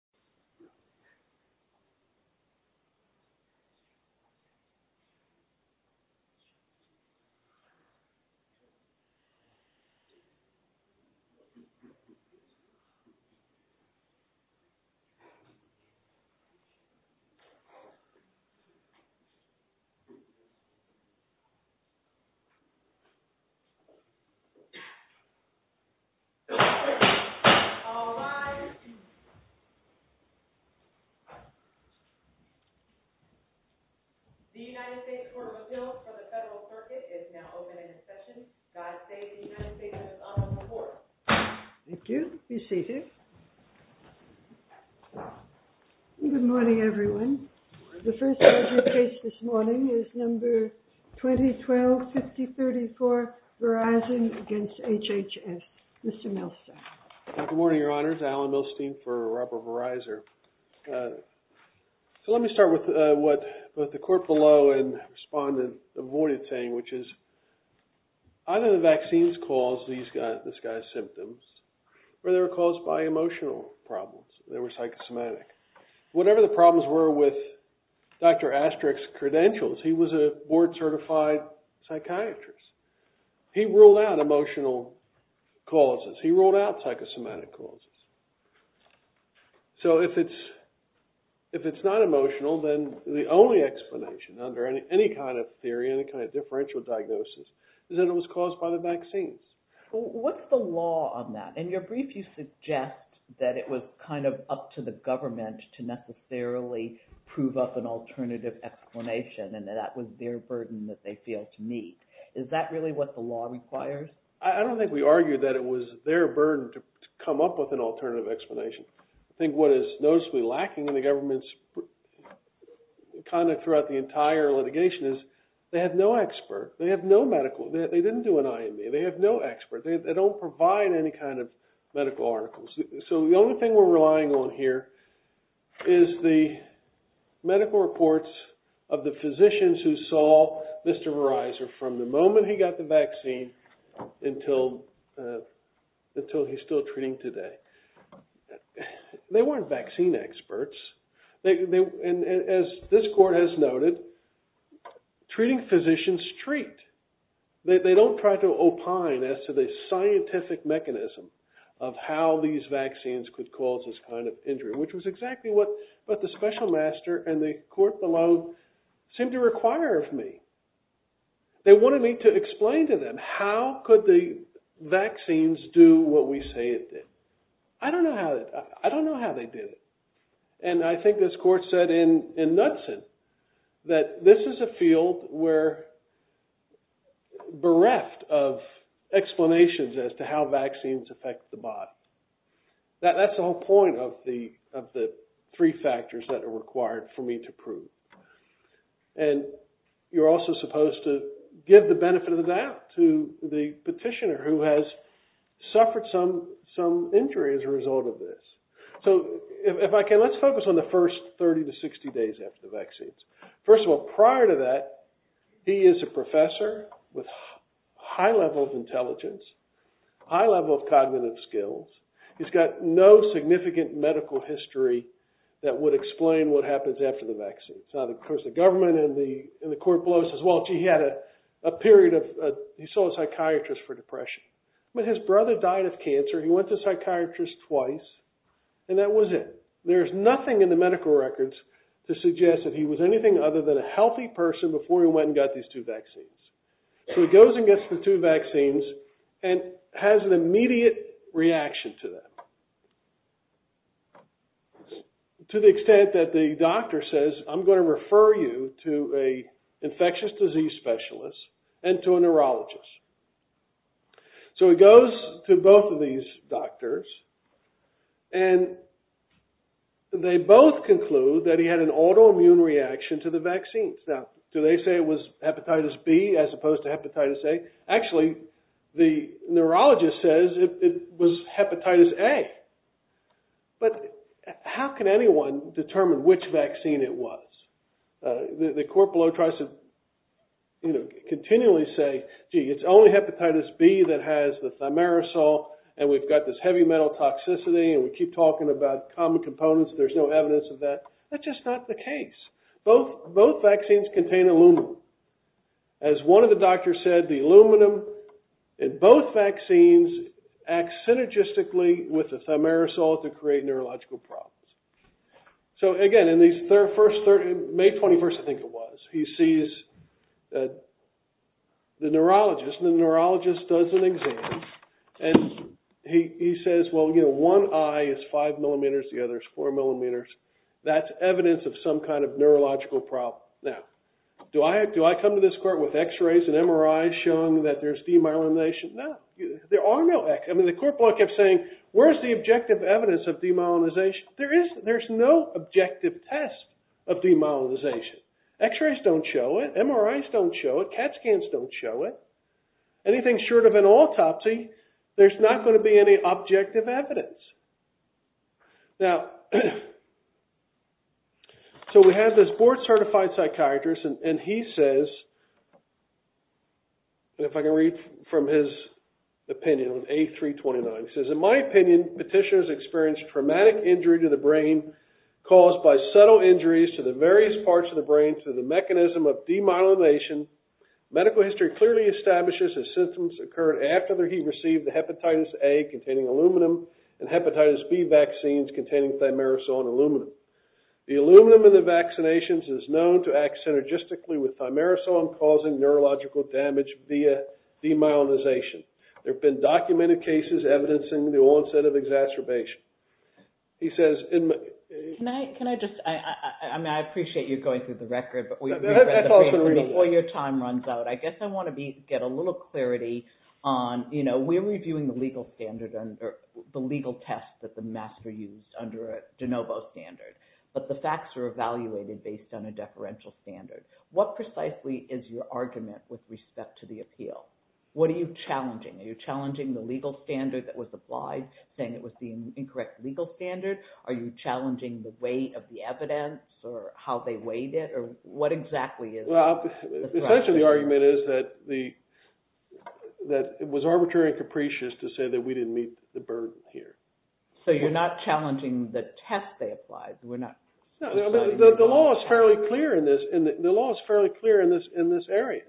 It's not something that needs reform or repeal. It's fine. look at anything that actually is dear to me. It's like we're across the street from our nature, sometimes it's good to hit on someone, sometimes it's just not out to hurt. But I think being more like, out-of-touch-something, out-of-lawful, out-of-touch. The United States Court of Appeals for the Federal Circuit is now open for discussion. Godspeed, the United States House On the Floor. Thank you. Be seated. Good morning, everyone. The first case this morning is number 2012-5034, Mr. Milstein. Good morning, Your Honor. This is Alan Milstein for Robert Verizon. So let me start with what both the court below and the respondent avoided saying, which is either the vaccines caused this guy's symptoms or they were caused by emotional problems. They were psychosomatic. Whatever the problems were with Dr. Asterix's credentials, he was a board-certified psychiatrist. He ruled out emotional causes. He ruled out psychosomatic causes. So if it's not emotional, then the only explanation under any kind of theory, any kind of differential diagnosis, is that it was caused by the vaccines. What's the law on that? In your brief, you suggest that it was kind of up to the government to necessarily prove up an alternative explanation and that that was their burden that they failed to meet. Is that really what the law requires? I don't think we argue that it was their burden to come up with an alternative explanation. I think what is noticeably lacking in the government's conduct throughout the entire litigation is they have no expert. They have no medical. They didn't do an IME. They have no expert. They don't provide any kind of medical articles. So the only thing we're relying on here is the medical reports of the physicians who saw Mr. Verizon from the moment he got the vaccine until he's still treating today. They weren't vaccine experts. And as this court has noted, treating physicians treat. They don't try to opine as to the scientific mechanism of how these vaccines could cause this kind of injury, which was exactly what the special master and the court below seemed to require of me. They wanted me to explain to them how could the vaccines do what we say it did. I don't know how they did it. And I think this court said in Knudsen that this is a field where bereft of explanations as to how vaccines affect the body. That's the whole point of the three factors that are required for me to prove. And you're also supposed to give the benefit of the doubt to the petitioner who has suffered some injury as a result of this. So if I can, let's focus on the first 30 to 60 days after the vaccines. First of all, prior to that, he is a professor with high level of intelligence, high level of cognitive skills. He's got no significant medical history that would explain what happens after the vaccine. So of course the government and the court below says, well, gee, he had a period of, he saw a psychiatrist for depression. But his brother died of cancer. He went to a psychiatrist twice and that was it. There's nothing in the medical records to suggest that he was anything other than a healthy person before he went and got these two vaccines. So he goes and gets the two vaccines and has an immediate reaction to them. To the extent that the doctor says, I'm going to refer you to a infectious disease specialist and to a neurologist. So he goes to both of these doctors and they both conclude that he had an autoimmune reaction to the vaccines. Now, do they say it was hepatitis B as opposed to hepatitis A? Actually, the neurologist says it was hepatitis A. But how can anyone determine which vaccine it was? The court below tries to continually say, gee, it's only hepatitis B that has the thimerosal and we've got this heavy metal toxicity and we keep talking about common components. There's no evidence of that. That's just not the case. Both vaccines contain aluminum. As one of the doctors said, the aluminum in both vaccines acts synergistically with the thimerosal to create neurological problems. So again, in May 21st, I think it was, he sees the neurologist and the neurologist does an exam and he says, well, one eye is five millimeters, the other is four millimeters. That's evidence of some kind of neurological problem. Now, do I come to this court with X-rays and MRIs showing that there's demyelination? No, there are no X, I mean, the court block kept saying, where's the objective evidence of demyelination? There is, there's no objective test of demyelination. X-rays don't show it, MRIs don't show it, CAT scans don't show it. Anything short of an autopsy, there's not gonna be any objective evidence. Now, so we have this board certified psychiatrist and he says, if I can read from his opinion, on A329, he says, in my opinion, petitioners experienced traumatic injury to the brain caused by subtle injuries to the various parts of the brain through the mechanism of demyelination. Medical history clearly establishes his symptoms occurred after he received the hepatitis A containing aluminum and hepatitis B vaccines containing thimerosal and aluminum. The aluminum in the vaccinations is known to act synergistically with thimerosal causing neurological damage via demyelination. There've been documented cases evidencing the onset of exacerbation. He says, in my- Can I just, I mean, I appreciate you going through the record, but we- That's all for the record. Before your time runs out, I guess I wanna be, get a little clarity on, you know, we're reviewing the legal standard and the legal test that the master used under a de novo standard, but the facts are evaluated based on a deferential standard. What precisely is your argument with respect to the appeal? What are you challenging? Are you challenging the legal standard that was applied, saying it was the incorrect legal standard? Are you challenging the weight of the evidence or how they weighed it? Or what exactly is- Well, essentially the argument is that the, that it was arbitrary and capricious to say that we didn't meet the burden here. So you're not challenging the test they applied, we're not- No, the law is fairly clear in this, the law is fairly clear in this area.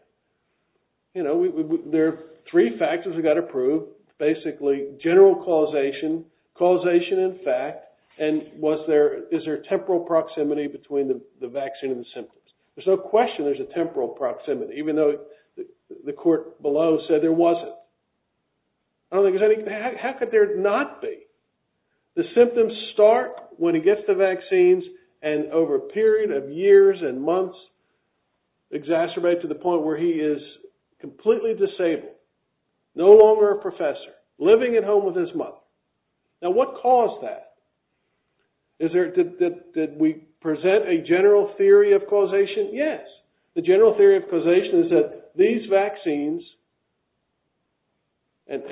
You know, there are three factors that got approved, basically general causation, causation in fact, and was there, is there a temporal proximity between the vaccine and the symptoms? There's no question there's a temporal proximity, even though the court below said there wasn't. I don't think there's any, how could there not be? The symptoms start when he gets the vaccines and over a period of years and months, exacerbate to the point where he is completely disabled, no longer a professor, living at home with his mother. Now, what caused that? Is there, did we present a general theory of causation? Yes, the general theory of causation is that these vaccines and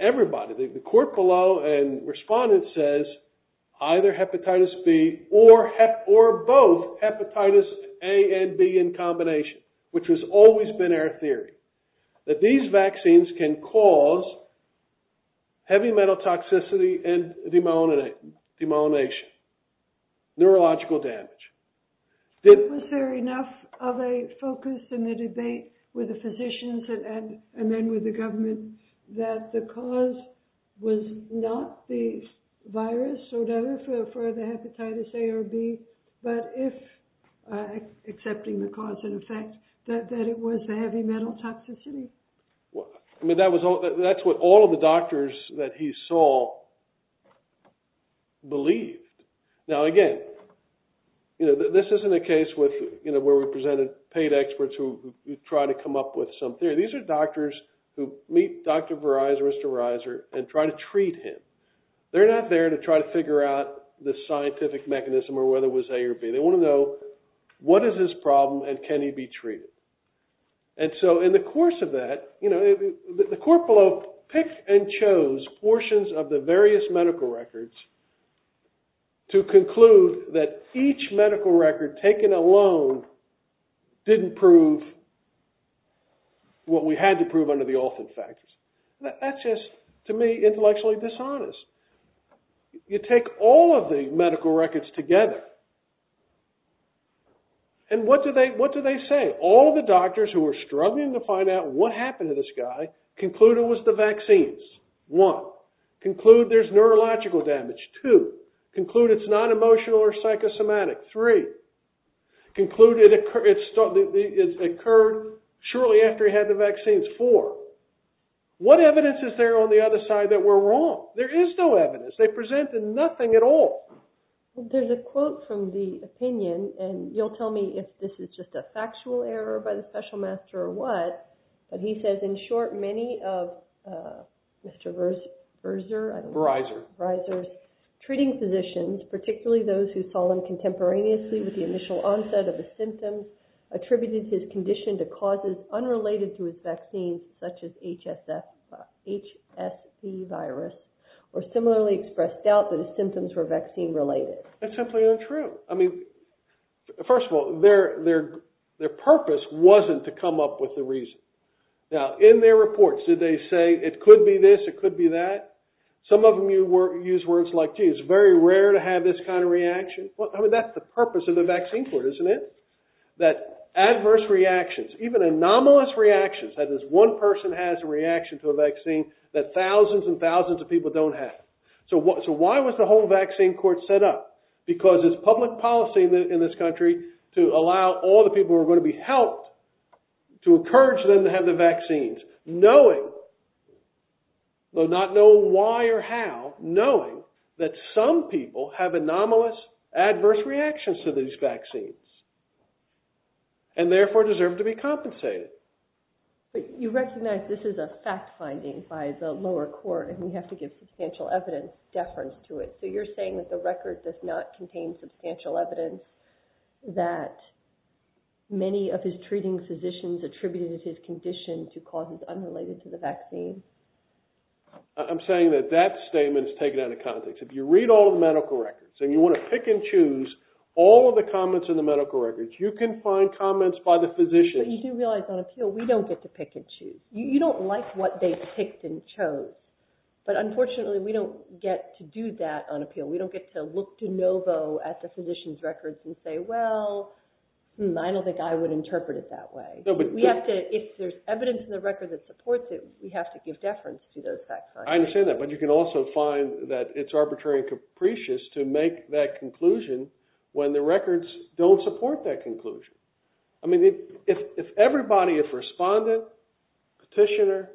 everybody, the court below and respondents says, either hepatitis B or both hepatitis A and B in combination, which has always been our theory, that these vaccines can cause heavy metal toxicity and demyelination, neurological damage. Did- Was there enough of a focus in the debate with the physicians and then with the government that the cause was not the virus, so to have the hepatitis A or B, but if, accepting the cause and effect, that it was a heavy metal toxicity? I mean, that was all, that's what all of the doctors that he saw believed. Now, again, you know, this isn't a case with, you know, where we presented paid experts who try to come up with some theory. These are doctors who meet Dr. Verizer, Mr. Verizer, and try to treat him. They're not there to try to figure out the scientific mechanism or whether it was A or B. They wanna know, what is his problem and can he be treated? And so, in the course of that, you know, the court below picked and chose portions of the various medical records to conclude that each medical record taken alone didn't prove what we had to prove under the often facts. That's just, to me, intellectually dishonest. You take all of the medical records together, and what do they say? All of the doctors who were struggling to find out what happened to this guy concluded it was the vaccines. One, conclude there's neurological damage. Two, conclude it's not emotional or psychosomatic. Three, conclude it occurred shortly after he had the vaccines. Four, what evidence is there on the other side that we're wrong? There is no evidence. They presented nothing at all. There's a quote from the opinion, and you'll tell me if this is just a factual error by the special master or what, but he says, in short, many of Mr. Verzer, I don't know. Verizer. Verizer's treating physicians, particularly those who saw him contemporaneously with the initial onset of the symptoms, attributed his condition to causes unrelated to his vaccines, such as HSC virus, or similarly expressed doubt that his symptoms were vaccine-related. That's simply untrue. I mean, first of all, their purpose wasn't to come up with the reason. Now, in their reports, did they say, it could be this, it could be that? Some of them used words like, gee, it's very rare to have this kind of reaction. Well, I mean, that's the purpose of the vaccine court, isn't it? That adverse reactions, even anomalous reactions, that is, one person has a reaction to a vaccine that thousands and thousands of people don't have. So why was the whole vaccine court set up? Because it's public policy in this country to allow all the people who are gonna be helped to encourage them to have the vaccines, knowing, though not knowing why or how, knowing that some people have anomalous, adverse reactions to these vaccines, and therefore deserve to be compensated. But you recognize this is a fact finding by the lower court, and we have to give substantial evidence, deference to it. So you're saying that the record does not contain substantial evidence that many of his treating physicians attributed his condition to causes unrelated to the vaccine? I'm saying that that statement's taken out of context. If you read all the medical records, and you wanna pick and choose all of the comments in the medical records, you can find comments by the physicians. But you do realize on appeal, we don't get to pick and choose. You don't like what they've picked and chose. But unfortunately, we don't get to do that on appeal. We don't get to look de novo at the physician's records and say, well, hmm, I don't think I would interpret it that way. We have to, if there's evidence in the record that supports it, we have to give it to the court. I understand that, but you can also find that it's arbitrary and capricious to make that conclusion when the records don't support that conclusion. I mean, if everybody, if respondent, petitioner,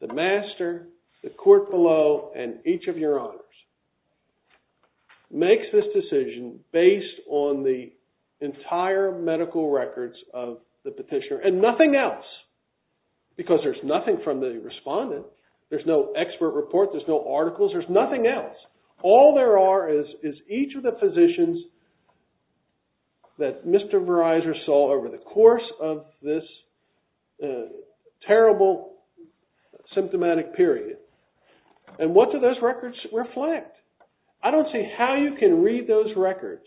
the master, the court below, and each of your honors makes this decision based on the entire medical records of the petitioner, and nothing else, because there's nothing from the respondent, there's no expert report, there's no articles, there's nothing else. All there are is each of the physicians that Mr. Verizon saw over the course of this terrible symptomatic period. And what do those records reflect? I don't see how you can read those records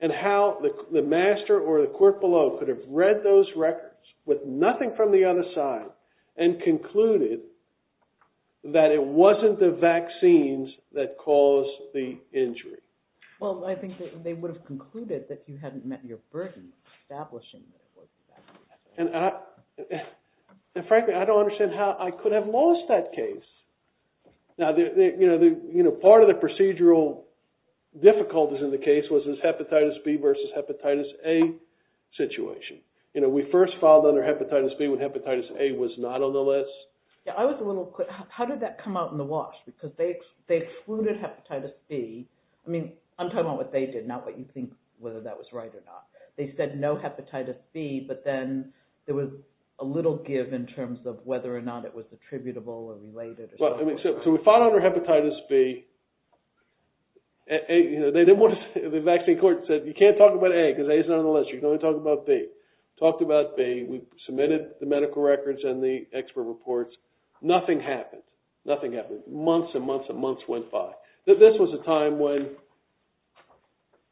and how the master or the court below could have read those records with nothing from the other side and concluded that it wasn't the vaccines that caused the injury. Well, I think that they would have concluded that you hadn't met your burden of establishing that it wasn't the vaccines that caused the injury. And frankly, I don't understand how I could have lost that case. Now, part of the procedural difficulties in the case was this hepatitis B versus hepatitis A situation. We first filed under hepatitis B when hepatitis A was not on the list. Yeah, I was a little quick. How did that come out in the wash? Because they excluded hepatitis B. I mean, I'm talking about what they did, not what you think whether that was right or not. They said no hepatitis B, but then there was a little give in terms of whether or not it was attributable or related or something. Well, I mean, so we filed under hepatitis B. They didn't want to say, the vaccine court said, you can't talk about A because A is not on the list. You can only talk about B. Talked about B. We submitted the medical records and the expert reports. Nothing happened. Nothing happened. Months and months and months went by. This was a time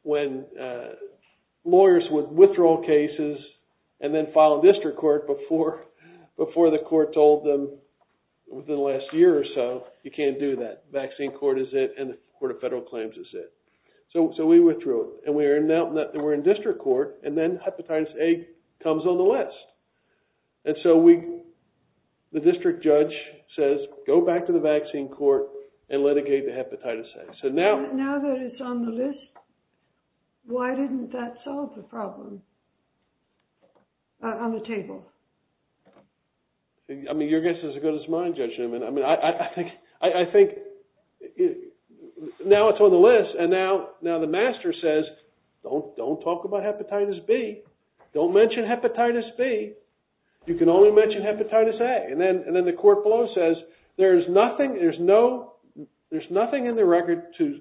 when lawyers would withdraw cases and then file a district court before the court told them within the last year or so, you can't do that. Vaccine court is it, and the court of federal claims is it. So we withdrew it. And we're in district court, and then hepatitis A comes on the list. And so the district judge says, go back to the vaccine court and litigate the hepatitis A. So now that it's on the list, why didn't that solve the problem on the table? I mean, your guess is as good as mine, Judge Newman. I mean, I think now it's on the list, and now the master says, don't talk about hepatitis B. Don't mention hepatitis B. You can only mention hepatitis A. And then the court below says, there's nothing in the record to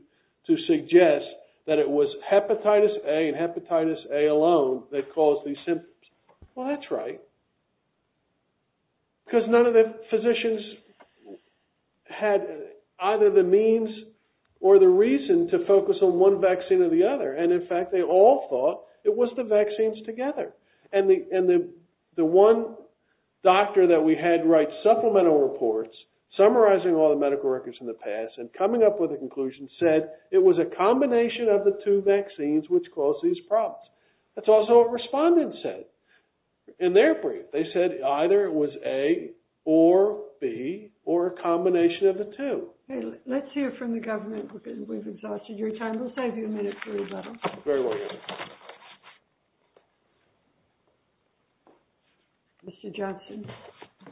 suggest that it was hepatitis A and hepatitis A alone that caused these symptoms. Well, that's right, because none of the physicians had either the means or the reason to focus on one vaccine or the other. And in fact, they all thought it was the vaccines together. And the one doctor that we had write supplemental reports, summarizing all the medical records in the past and coming up with a conclusion, said it was a combination of the two vaccines which caused these problems. That's also what respondents said. In their brief, they said either it was A or B or a combination of the two. Let's hear from the government, because we've exhausted your time. We'll save you a minute for rebuttal. Very well, Your Honor. Mr. Johnson.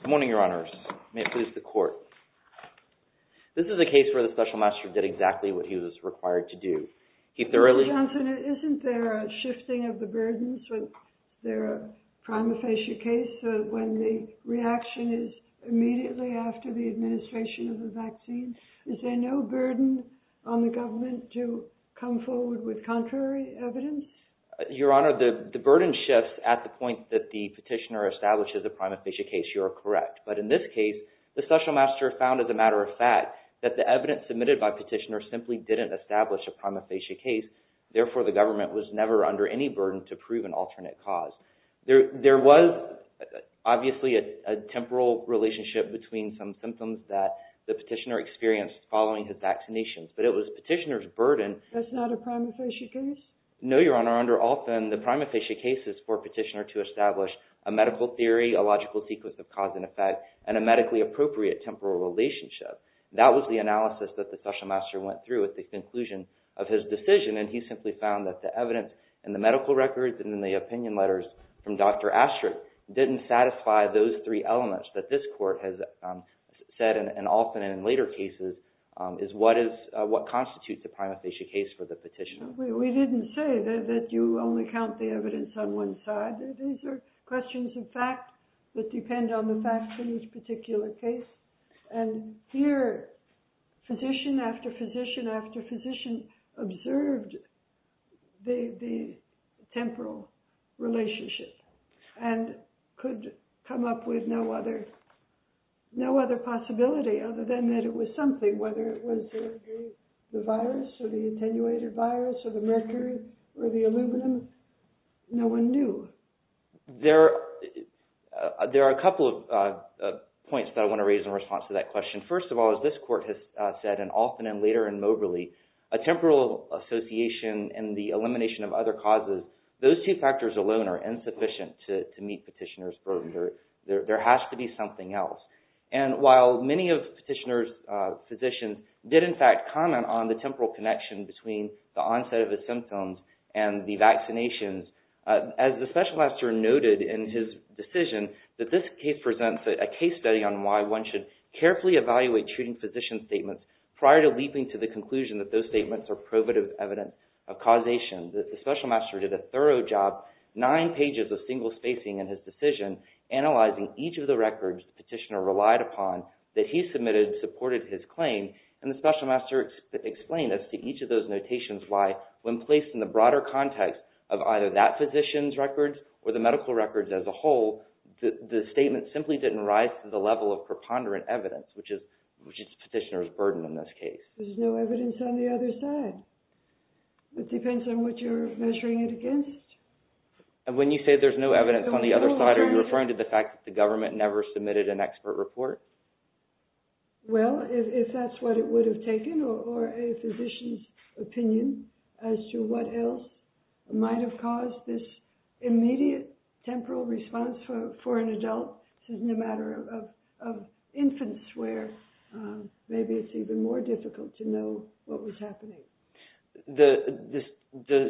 Good morning, Your Honors. May it please the court. This is a case where the special master did exactly what he was required to do. He thoroughly- Is there a balancing of the burdens when they're a prima facie case, when the reaction is immediately after the administration of the vaccine? Is there no burden on the government to come forward with contrary evidence? Your Honor, the burden shifts at the point that the petitioner establishes a prima facie case. You are correct. But in this case, the special master found as a matter of fact that the evidence submitted by petitioner simply didn't establish a prima facie case. Therefore, the government was never under any burden to prove an alternate cause. There was, obviously, a temporal relationship between some symptoms that the petitioner experienced following his vaccinations. But it was petitioner's burden- That's not a prima facie case? No, Your Honor. Under Alton, the prima facie case is for petitioner to establish a medical theory, a logical sequence of cause and effect, and a medically appropriate temporal relationship. That was the analysis that the special master went through with the conclusion of his decision. And he simply found that the evidence in the medical records and in the opinion letters from Dr. Astrick didn't satisfy those three elements that this court has said, and often in later cases, is what constitutes a prima facie case for the petitioner. We didn't say that you only count the evidence on one side. These are questions of fact that depend on the facts in each particular case. And here, physician after physician after physician observed the temporal relationship and could come up with no other possibility other than that it was something, whether it was the virus or the attenuated virus or the mercury or the aluminum. No one knew. There are a couple of points that I want to make in response to that question. First of all, as this court has said, and often in later in Moberly, a temporal association and the elimination of other causes, those two factors alone are insufficient to meet petitioner's burden. There has to be something else. And while many of petitioner's physicians did, in fact, comment on the temporal connection between the onset of the symptoms and the vaccinations, as the special master noted in his decision, that this case presents a case study on why one should carefully evaluate treating physician statements prior to leaping to the conclusion that those statements are probative evidence of causation. The special master did a thorough job, nine pages of single spacing in his decision, analyzing each of the records the petitioner relied upon that he submitted supported his claim. And the special master explained as to each of those notations lie when placed in the broader context of either that physician's records or the medical records as a whole, the statement simply didn't rise to the level of preponderant evidence, which is petitioner's burden in this case. There's no evidence on the other side. It depends on what you're measuring it against. And when you say there's no evidence on the other side, are you referring to the fact that the government never submitted an expert report? Well, if that's what it would have taken, or a physician's opinion as to what else might have caused this immediate temporal response for an adult, no matter of infant's where, maybe it's even more difficult to know what was happening. The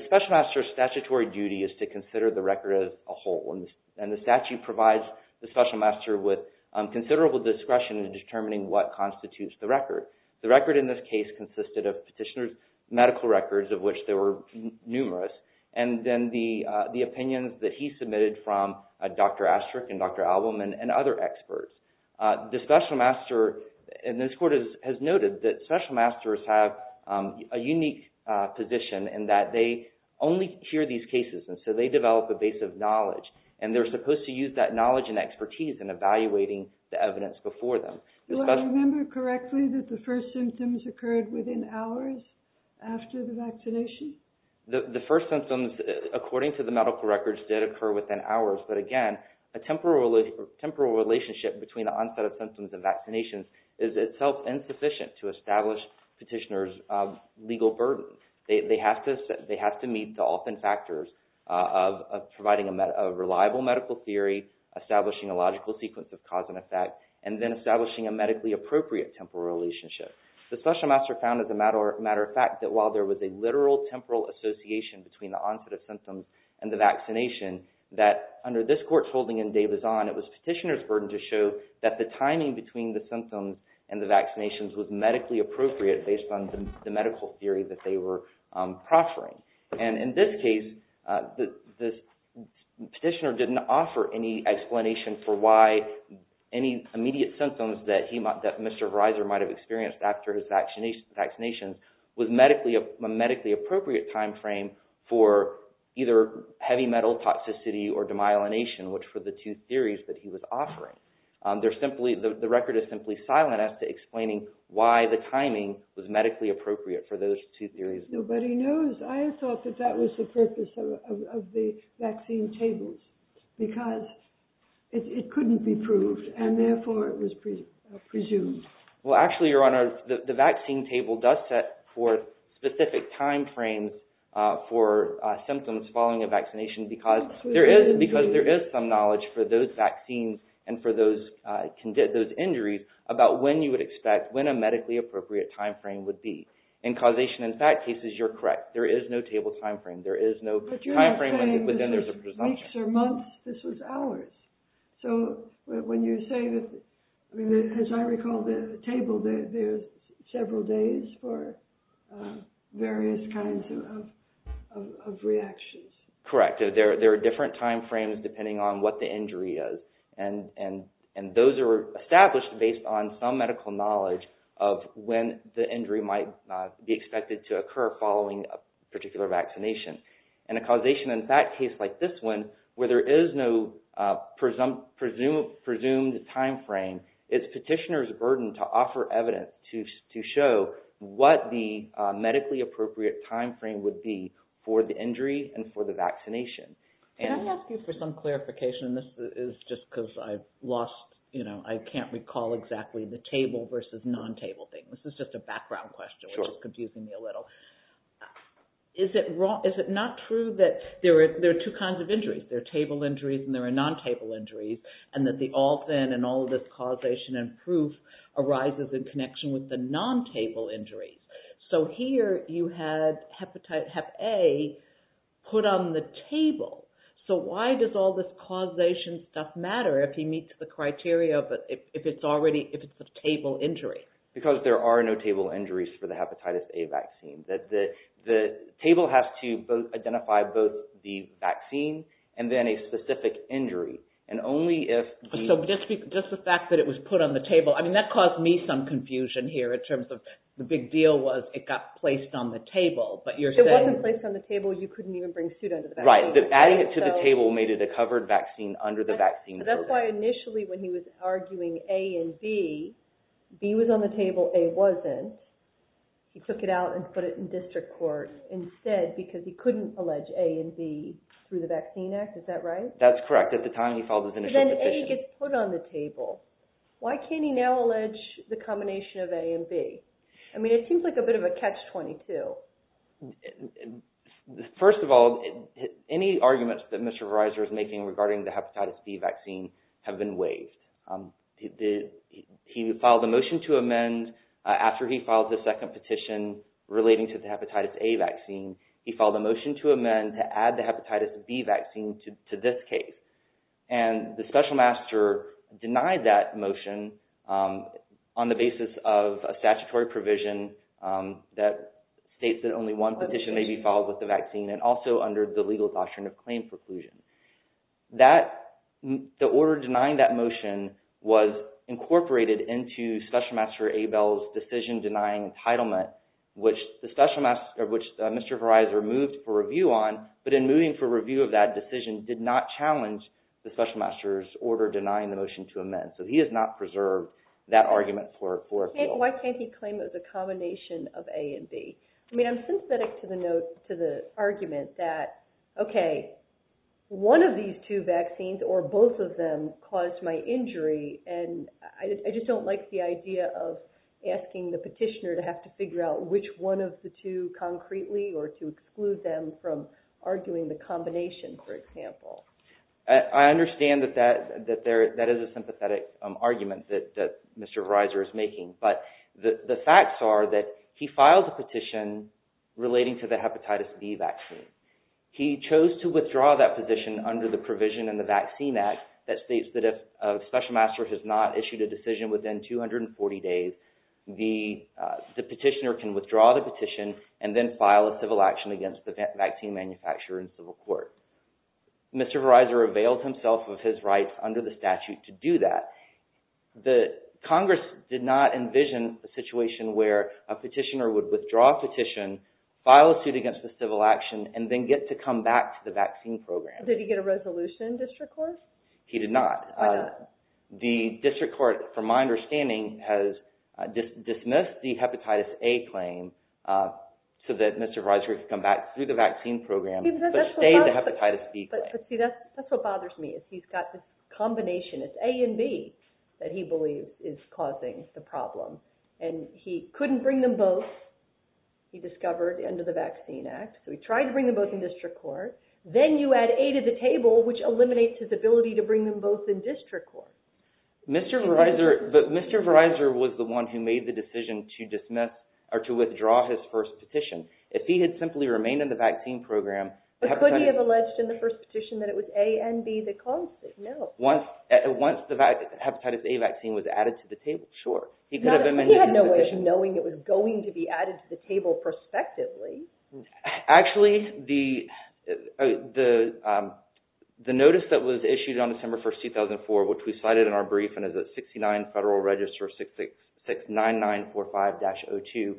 special master's statutory duty is to consider the record as a whole, and the statute provides the special master with considerable discretion in determining what constitutes the record. The record in this case consisted of petitioner's medical records, of which there were numerous, and then the opinions that he submitted from Dr. Astrick and Dr. Albom and other experts. The special master, and this court has noted that special masters have a unique position in that they only hear these cases, and so they develop a base of knowledge, and they're supposed to use that knowledge and expertise in evaluating the evidence before them. Do I remember correctly that the first symptoms occurred within hours after the vaccination? The first symptoms, according to the medical records, did occur within hours, but again, a temporal relationship between the onset of symptoms and vaccinations is itself insufficient to establish petitioner's legal burden. They have to meet the often factors of providing a reliable medical theory, establishing a logical sequence of cause and effect, and then establishing a medically appropriate temporal relationship. The special master found, as a matter of fact, that while there was a literal temporal association between the onset of symptoms and the vaccination, that under this court's holding and day was on, it was petitioner's burden to show that the timing between the symptoms and the vaccinations was medically appropriate based on the medical theory that they were proffering. And in this case, the petitioner didn't offer any explanation for why any immediate symptoms that Mr. Reiser might have experienced after his vaccinations was a medically appropriate time frame for either heavy metal toxicity or demyelination, which were the two theories that he was offering. The record is simply silent as to explaining why the timing was medically appropriate for those two theories. Nobody knows. I thought that that was the purpose of the vaccine tables because it couldn't be proved, and therefore it was presumed. Well, actually, Your Honor, the vaccine table does set for specific time frames for symptoms following a vaccination because there is some knowledge for those vaccines and for those injuries about when you would expect, when a medically appropriate time frame would be. In causation and fact cases, you're correct. There is no table time frame. There is no time frame within the presumption. But you're not saying that there's weeks or months. This was hours. So when you say that, I mean, as I recall the table, there's several days for various kinds of reactions. Correct. There are different time frames depending on what the injury is. And those are established based on some medical knowledge of when the injury might be expected to occur following a particular vaccination. In a causation and fact case like this one, where there is no presumed time frame, it's petitioner's burden to offer evidence to show what the medically appropriate time frame would be for the injury and for the vaccination. Can I ask you for some clarification? This is just because I've lost, you know, I can't recall exactly the table versus non-table thing. This is just a background question, which is confusing me a little. Is it not true that there are two kinds of injuries? There are table injuries and there are non-table injuries, and that the all thin and all of this causation and proof arises in connection with the non-table injuries. So here you have Hep A put on the table. So why does all this causation stuff matter if he meets the criteria, if it's already, if it's a table injury? Because there are no table injuries for the Hepatitis A vaccine. That the table has to identify both the vaccine and then a specific injury. And only if the- So just the fact that it was put on the table, I mean, that caused me some confusion here in terms of the big deal was it got placed on the table, but you're saying- It wasn't placed on the table, you couldn't even bring suit under the table. Right, adding it to the table made it a covered vaccine under the vaccine program. That's why initially when he was arguing A and B, B was on the table, A wasn't. He took it out and put it in district court instead because he couldn't allege A and B through the Vaccine Act, is that right? That's correct. At the time he filed his initial petition. But then A gets put on the table. Why can't he now allege the combination of A and B? I mean, it seems like a bit of a catch 22. First of all, any arguments that Mr. Verizon is making regarding the Hepatitis B vaccine have been waived. He filed a motion to amend after he filed the second petition relating to the Hepatitis A vaccine, he filed a motion to amend to add the Hepatitis B vaccine to this case. And the special master denied that motion on the basis of a statutory provision that states that only one petition may be filed with the vaccine and also under the legal doctrine of claim preclusion. The order denying that motion was incorporated into special master Abel's decision denying entitlement, which Mr. Verizon moved for review on, but in moving for review of that decision did not challenge the special master's order denying the motion to amend. So he has not preserved that argument for appeal. Why can't he claim it was a combination of A and B? I mean, I'm sympathetic to the argument that, okay, one of these two vaccines or both of them caused my injury. And I just don't like the idea of asking the petitioner to have to figure out which one of the two concretely or to exclude them from arguing the combination, for example. I understand that that is a sympathetic argument that Mr. Verizon is making, but the facts are that he filed a petition relating to the Hepatitis B vaccine. He chose to withdraw that position under the provision in the Vaccine Act that states that if a special master has not issued a decision within 240 days, the petitioner can withdraw the petition and then file a civil action against the vaccine manufacturer in civil court. Mr. Verizon availed himself of his rights under the statute to do that. The Congress did not envision a situation where a petitioner would withdraw a petition, file a suit against the civil action, and then get to come back to the vaccine program. Did he get a resolution, District Court? He did not. The District Court, from my understanding, has dismissed the Hepatitis A claim so that Mr. Verizon could come back through the vaccine program, but stay the Hepatitis B claim. But see, that's what bothers me, is he's got this combination, it's A and B, that he believes is causing the problem. And he couldn't bring them both, he discovered under the Vaccine Act. So he tried to bring them both in District Court. Then you add A to the table, which eliminates his ability to bring them both in District Court. Mr. Verizon, but Mr. Verizon was the one who made the decision to dismiss, or to withdraw his first petition. If he had simply remained in the vaccine program- But could he have alleged in the first petition that it was A and B that caused it? No. Once the Hepatitis A vaccine was added to the table, sure. He could have been- He had no way of knowing it was going to be added to the table prospectively. Actually, the notice that was issued on December 1, 2004, which we cited in our briefing as a 69 Federal Register 69945-02,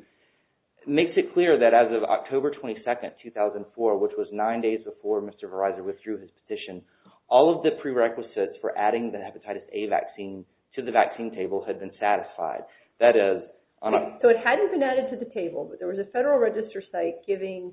makes it clear that as of October 22, 2004, which was nine days before Mr. Verizon withdrew his petition, all of the prerequisites for adding the Hepatitis A vaccine to the vaccine table had been satisfied. That is- So it hadn't been added to the table, but there was a Federal Register site giving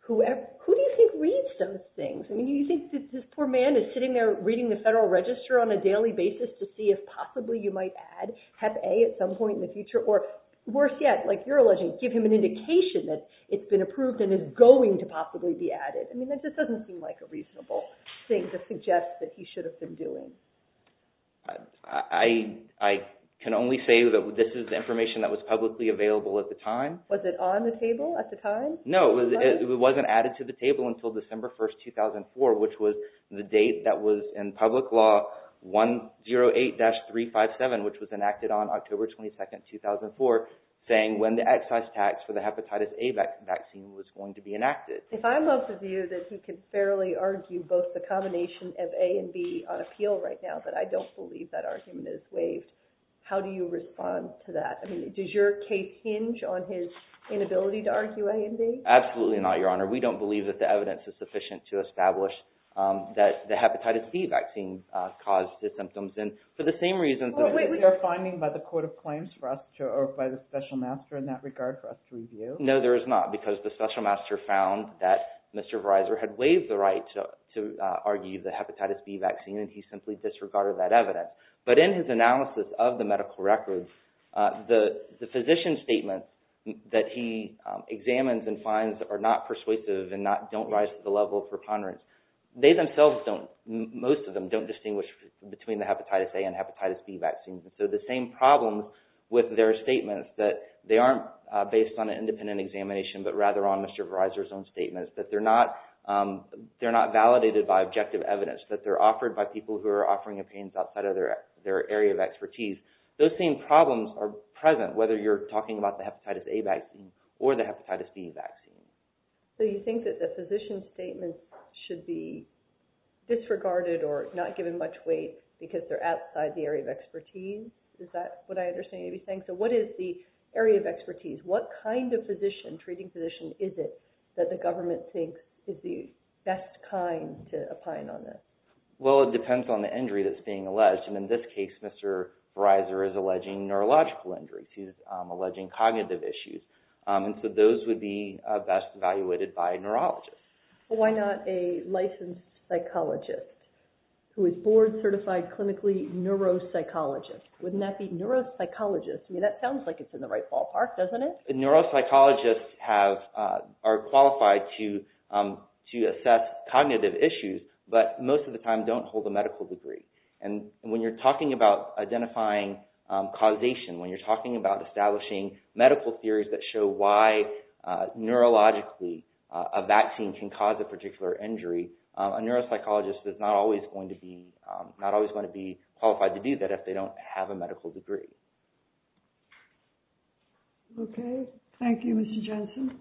whoever- Who do you think reads those things? I mean, you think this poor man is sitting there reading the Federal Register on a daily basis to see if possibly you might add Hep A at some point in the future, or worse yet, like you're alleging, give him an indication that it's been approved and is going to possibly be added. I mean, this doesn't seem like a reasonable thing to suggest that he should have been doing. I can only say that this is information that was publicly available at the time. Was it on the table at the time? No, it wasn't added to the table until December 1, 2004, which was the date that was in public law 108-357, which was enacted on October 22, 2004, saying when the excise tax for the Hepatitis A vaccine was going to be enacted. If I'm of the view that he can fairly argue both the combination of A and B on appeal right now, but I don't believe that argument is waived, how do you respond to that? I mean, does your case hinge on his inability to argue A and B? Absolutely not, Your Honor. We don't believe that the evidence is sufficient to establish that the Hepatitis B vaccine caused the symptoms. And for the same reasons- Well, wait, we are finding by the court of claims for us to, or by the special master in that regard for us to review. No, there is not, because the special master found that Mr. Verizon had waived the right to argue the Hepatitis B vaccine and he simply disregarded that evidence. But in his analysis of the medical records, the physician's statement that he examines and finds are not persuasive and don't rise to the level of preponderance. They themselves don't, most of them don't distinguish between the Hepatitis A and Hepatitis B vaccines. So the same problem with their statements that they aren't based on an independent examination, but rather on Mr. Verizon's own statements, that they're not validated by objective evidence, that they're offered by people who are offering opinions outside of their area of expertise. Those same problems are present whether you're talking about the Hepatitis A vaccine or the Hepatitis B vaccine. So you think that the physician's statements should be disregarded or not given much weight because they're outside the area of expertise? Is that what I understand you to be saying? So what is the area of expertise? What kind of physician, treating physician is it that the government thinks is the best kind to opine on this? Well, it depends on the injury that's being alleged. And in this case, Mr. Verizon is alleging neurological injuries. He's alleging cognitive issues. And so those would be best evaluated by a neurologist. Why not a licensed psychologist who is board certified clinically neuropsychologist? Wouldn't that be neuropsychologist? I mean, that sounds like it's in the right ballpark, doesn't it? Neuropsychologists are qualified to assess cognitive issues, but most of the time don't hold a medical degree. And when you're talking about identifying causation, when you're talking about establishing medical theories that show why neurologically a vaccine can cause a particular injury, a neuropsychologist is not always going to be qualified to do that if they don't have a medical degree. Okay, thank you, Mr. Johnson.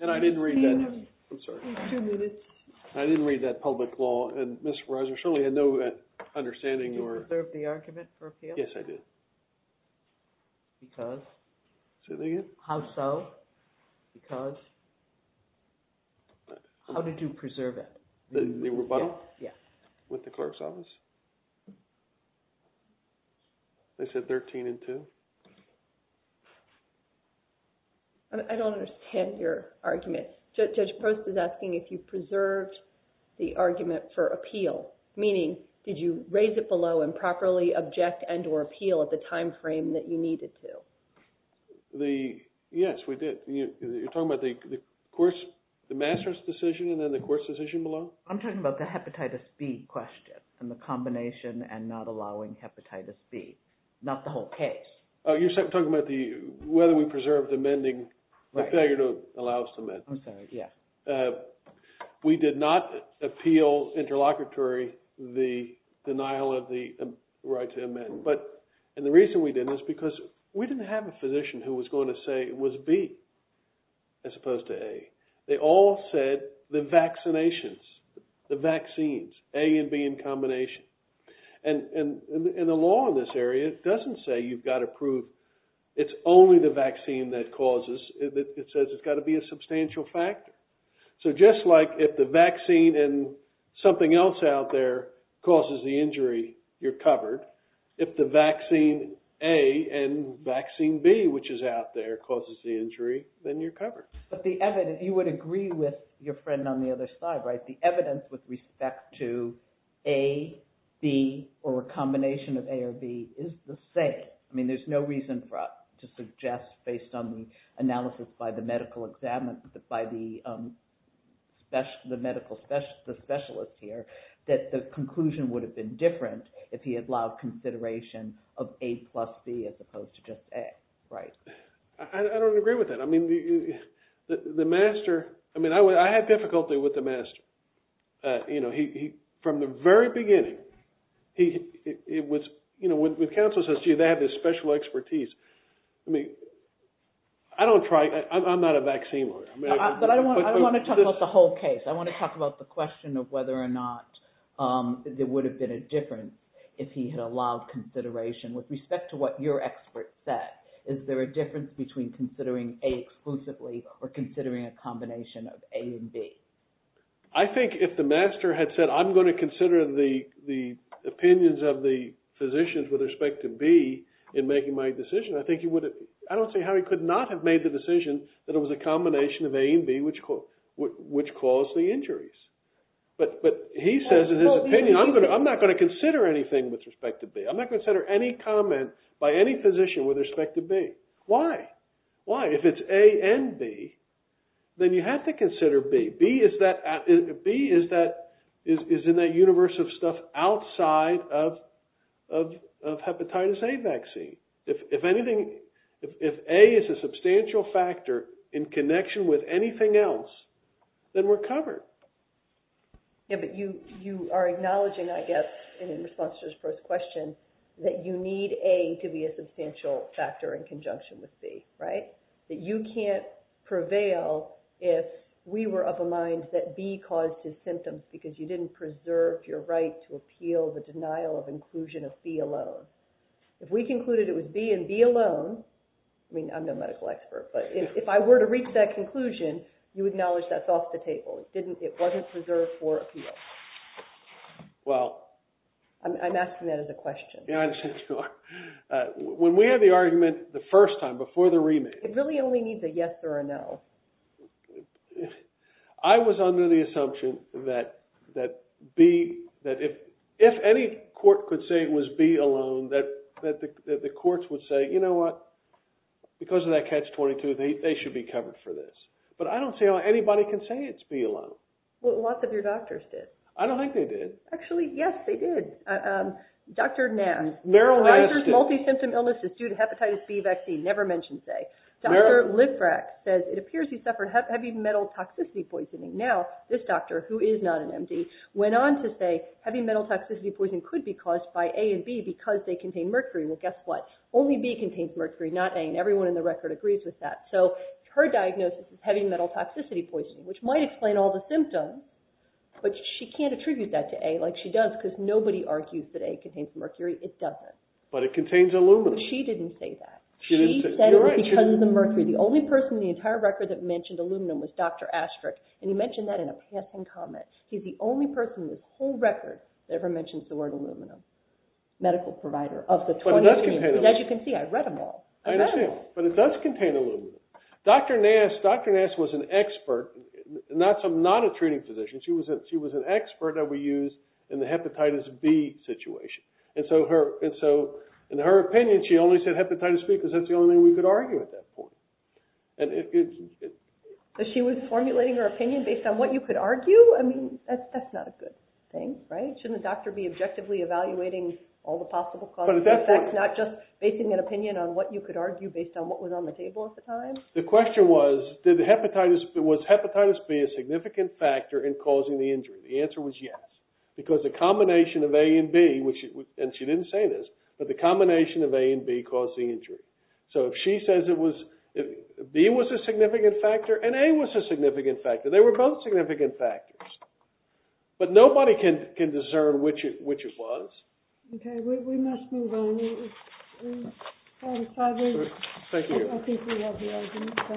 And I didn't read that. I'm sorry. Two minutes. I didn't read that public law. And Mr. Verizon, surely I know that understanding your- Did you observe the argument for appeal? Yes, I did. Because? Say that again? How so? Because? How did you preserve it? The rebuttal? Yeah. With the clerk's office? They said 13 and two. I don't understand your argument. Judge Post is asking if you preserved the argument for appeal, meaning did you raise it below and properly object and or appeal at the timeframe that you needed to? Yes, we did. You're talking about the course, the master's decision and then the course decision below? I'm talking about the hepatitis B question and the combination and not allowing hepatitis B, not the whole case. Oh, you're talking about whether we preserved amending the failure to allow cement. I'm sorry, yeah. We did not appeal interlocutory the denial of the right to amend. But, and the reason we didn't is because we didn't have a physician who was going to say it was B as opposed to A. They all said the vaccinations, the vaccines, A and B in combination. And the law in this area doesn't say you've got to prove it's only the vaccine that causes. It says it's got to be a substantial factor. So just like if the vaccine and something else out there causes the injury, you're covered. If the vaccine A and vaccine B, which is out there causes the injury, then you're covered. But the evidence, you would agree with your friend on the other side, right? The evidence with respect to A, B, or a combination of A or B is the same. I mean, there's no reason for us to suggest based on the analysis by the medical examiner, by the specialist here, that the conclusion would have been different if he had allowed consideration of A plus B as opposed to just A, right? I don't agree with that. I mean, the master, I mean, I had difficulty with the master. From the very beginning, it was, when counsel says, gee, they have this special expertise. I mean, I don't try, I'm not a vaccine lawyer. I don't wanna talk about the whole case. I wanna talk about the question of whether or not there would have been a difference if he had allowed consideration with respect to what your expert said. Is there a difference between considering A exclusively or considering a combination of A and B? I think if the master had said, I'm gonna consider the opinions of the physicians with respect to B in making my decision, I think he would have, I don't see how he could not have made the decision that it was a combination of A and B, which caused the injuries. But he says in his opinion, I'm not gonna consider anything with respect to B. I'm not gonna consider any comment by any physician with respect to B. Why? Why? If it's A and B, then you have to consider B. B is in that universe of stuff outside of hepatitis A vaccine. If anything, if A is a substantial factor in connection with anything else, then we're covered. Yeah, but you are acknowledging, I guess, in response to his first question, that you need A to be a substantial factor in conjunction with B, right? That you can't prevail if we were of a mind that B caused his symptoms because you didn't preserve your right to appeal the denial of inclusion of B alone. If we concluded it was B and B alone, I mean, I'm no medical expert, but if I were to reach that conclusion, you acknowledge that's off the table. It wasn't preserved for appeal. Well. I'm asking that as a question. Yeah, I understand you are. When we had the argument the first time, before the remake. It really only needs a yes or a no. I was under the assumption that B, that if any court could say it was B alone, that the courts would say, you know what, because of that catch-22, they should be covered for this. But I don't see how anybody can say it's B alone. Well, lots of your doctors did. I don't think they did. Actually, yes, they did. Dr. Nams. Meryl Nams. Kaiser's multi-symptom illness is due to hepatitis B vaccine. Never mention say. Dr. Lifrak says, it appears he suffered heavy metal toxicity poisoning. Now, this doctor, who is not an MD, went on to say heavy metal toxicity poisoning could be caused by A and B because they contain mercury. Well, guess what? Only B contains mercury, not A, and everyone in the record agrees with that. So, her diagnosis is heavy metal toxicity poisoning, which might explain all the symptoms, but she can't attribute that to A like she does because nobody argues that A contains mercury. It doesn't. But it contains aluminum. She didn't say that. She said it because of the mercury. The only person in the entire record that mentioned aluminum was Dr. Astrick, and he mentioned that in a past-time comment. He's the only person in this whole record that ever mentions the word aluminum. Medical provider of the 23. As you can see, I read them all. I know. But it does contain aluminum. Dr. Nass was an expert, not a treating physician. She was an expert that we used in the hepatitis B situation. And so, in her opinion, she only said hepatitis B because that's the only thing we could argue at that point. So, she was formulating her opinion based on what you could argue? I mean, that's not a good thing, right? Shouldn't a doctor be objectively evaluating all the possible causes and effects, not just basing an opinion on what you could argue based on what was on the table at the time? The question was, was hepatitis B a significant factor in causing the injury? The answer was yes. Because the combination of A and B, and she didn't say this, but the combination of A and B caused the injury. So, if she says B was a significant factor and A was a significant factor, they were both significant factors. But nobody can discern which it was. Okay, we must move on. We've had a five-minute break. Thank you. I think we have the argument. Thank you, Mr. Bilstein. Appreciate it.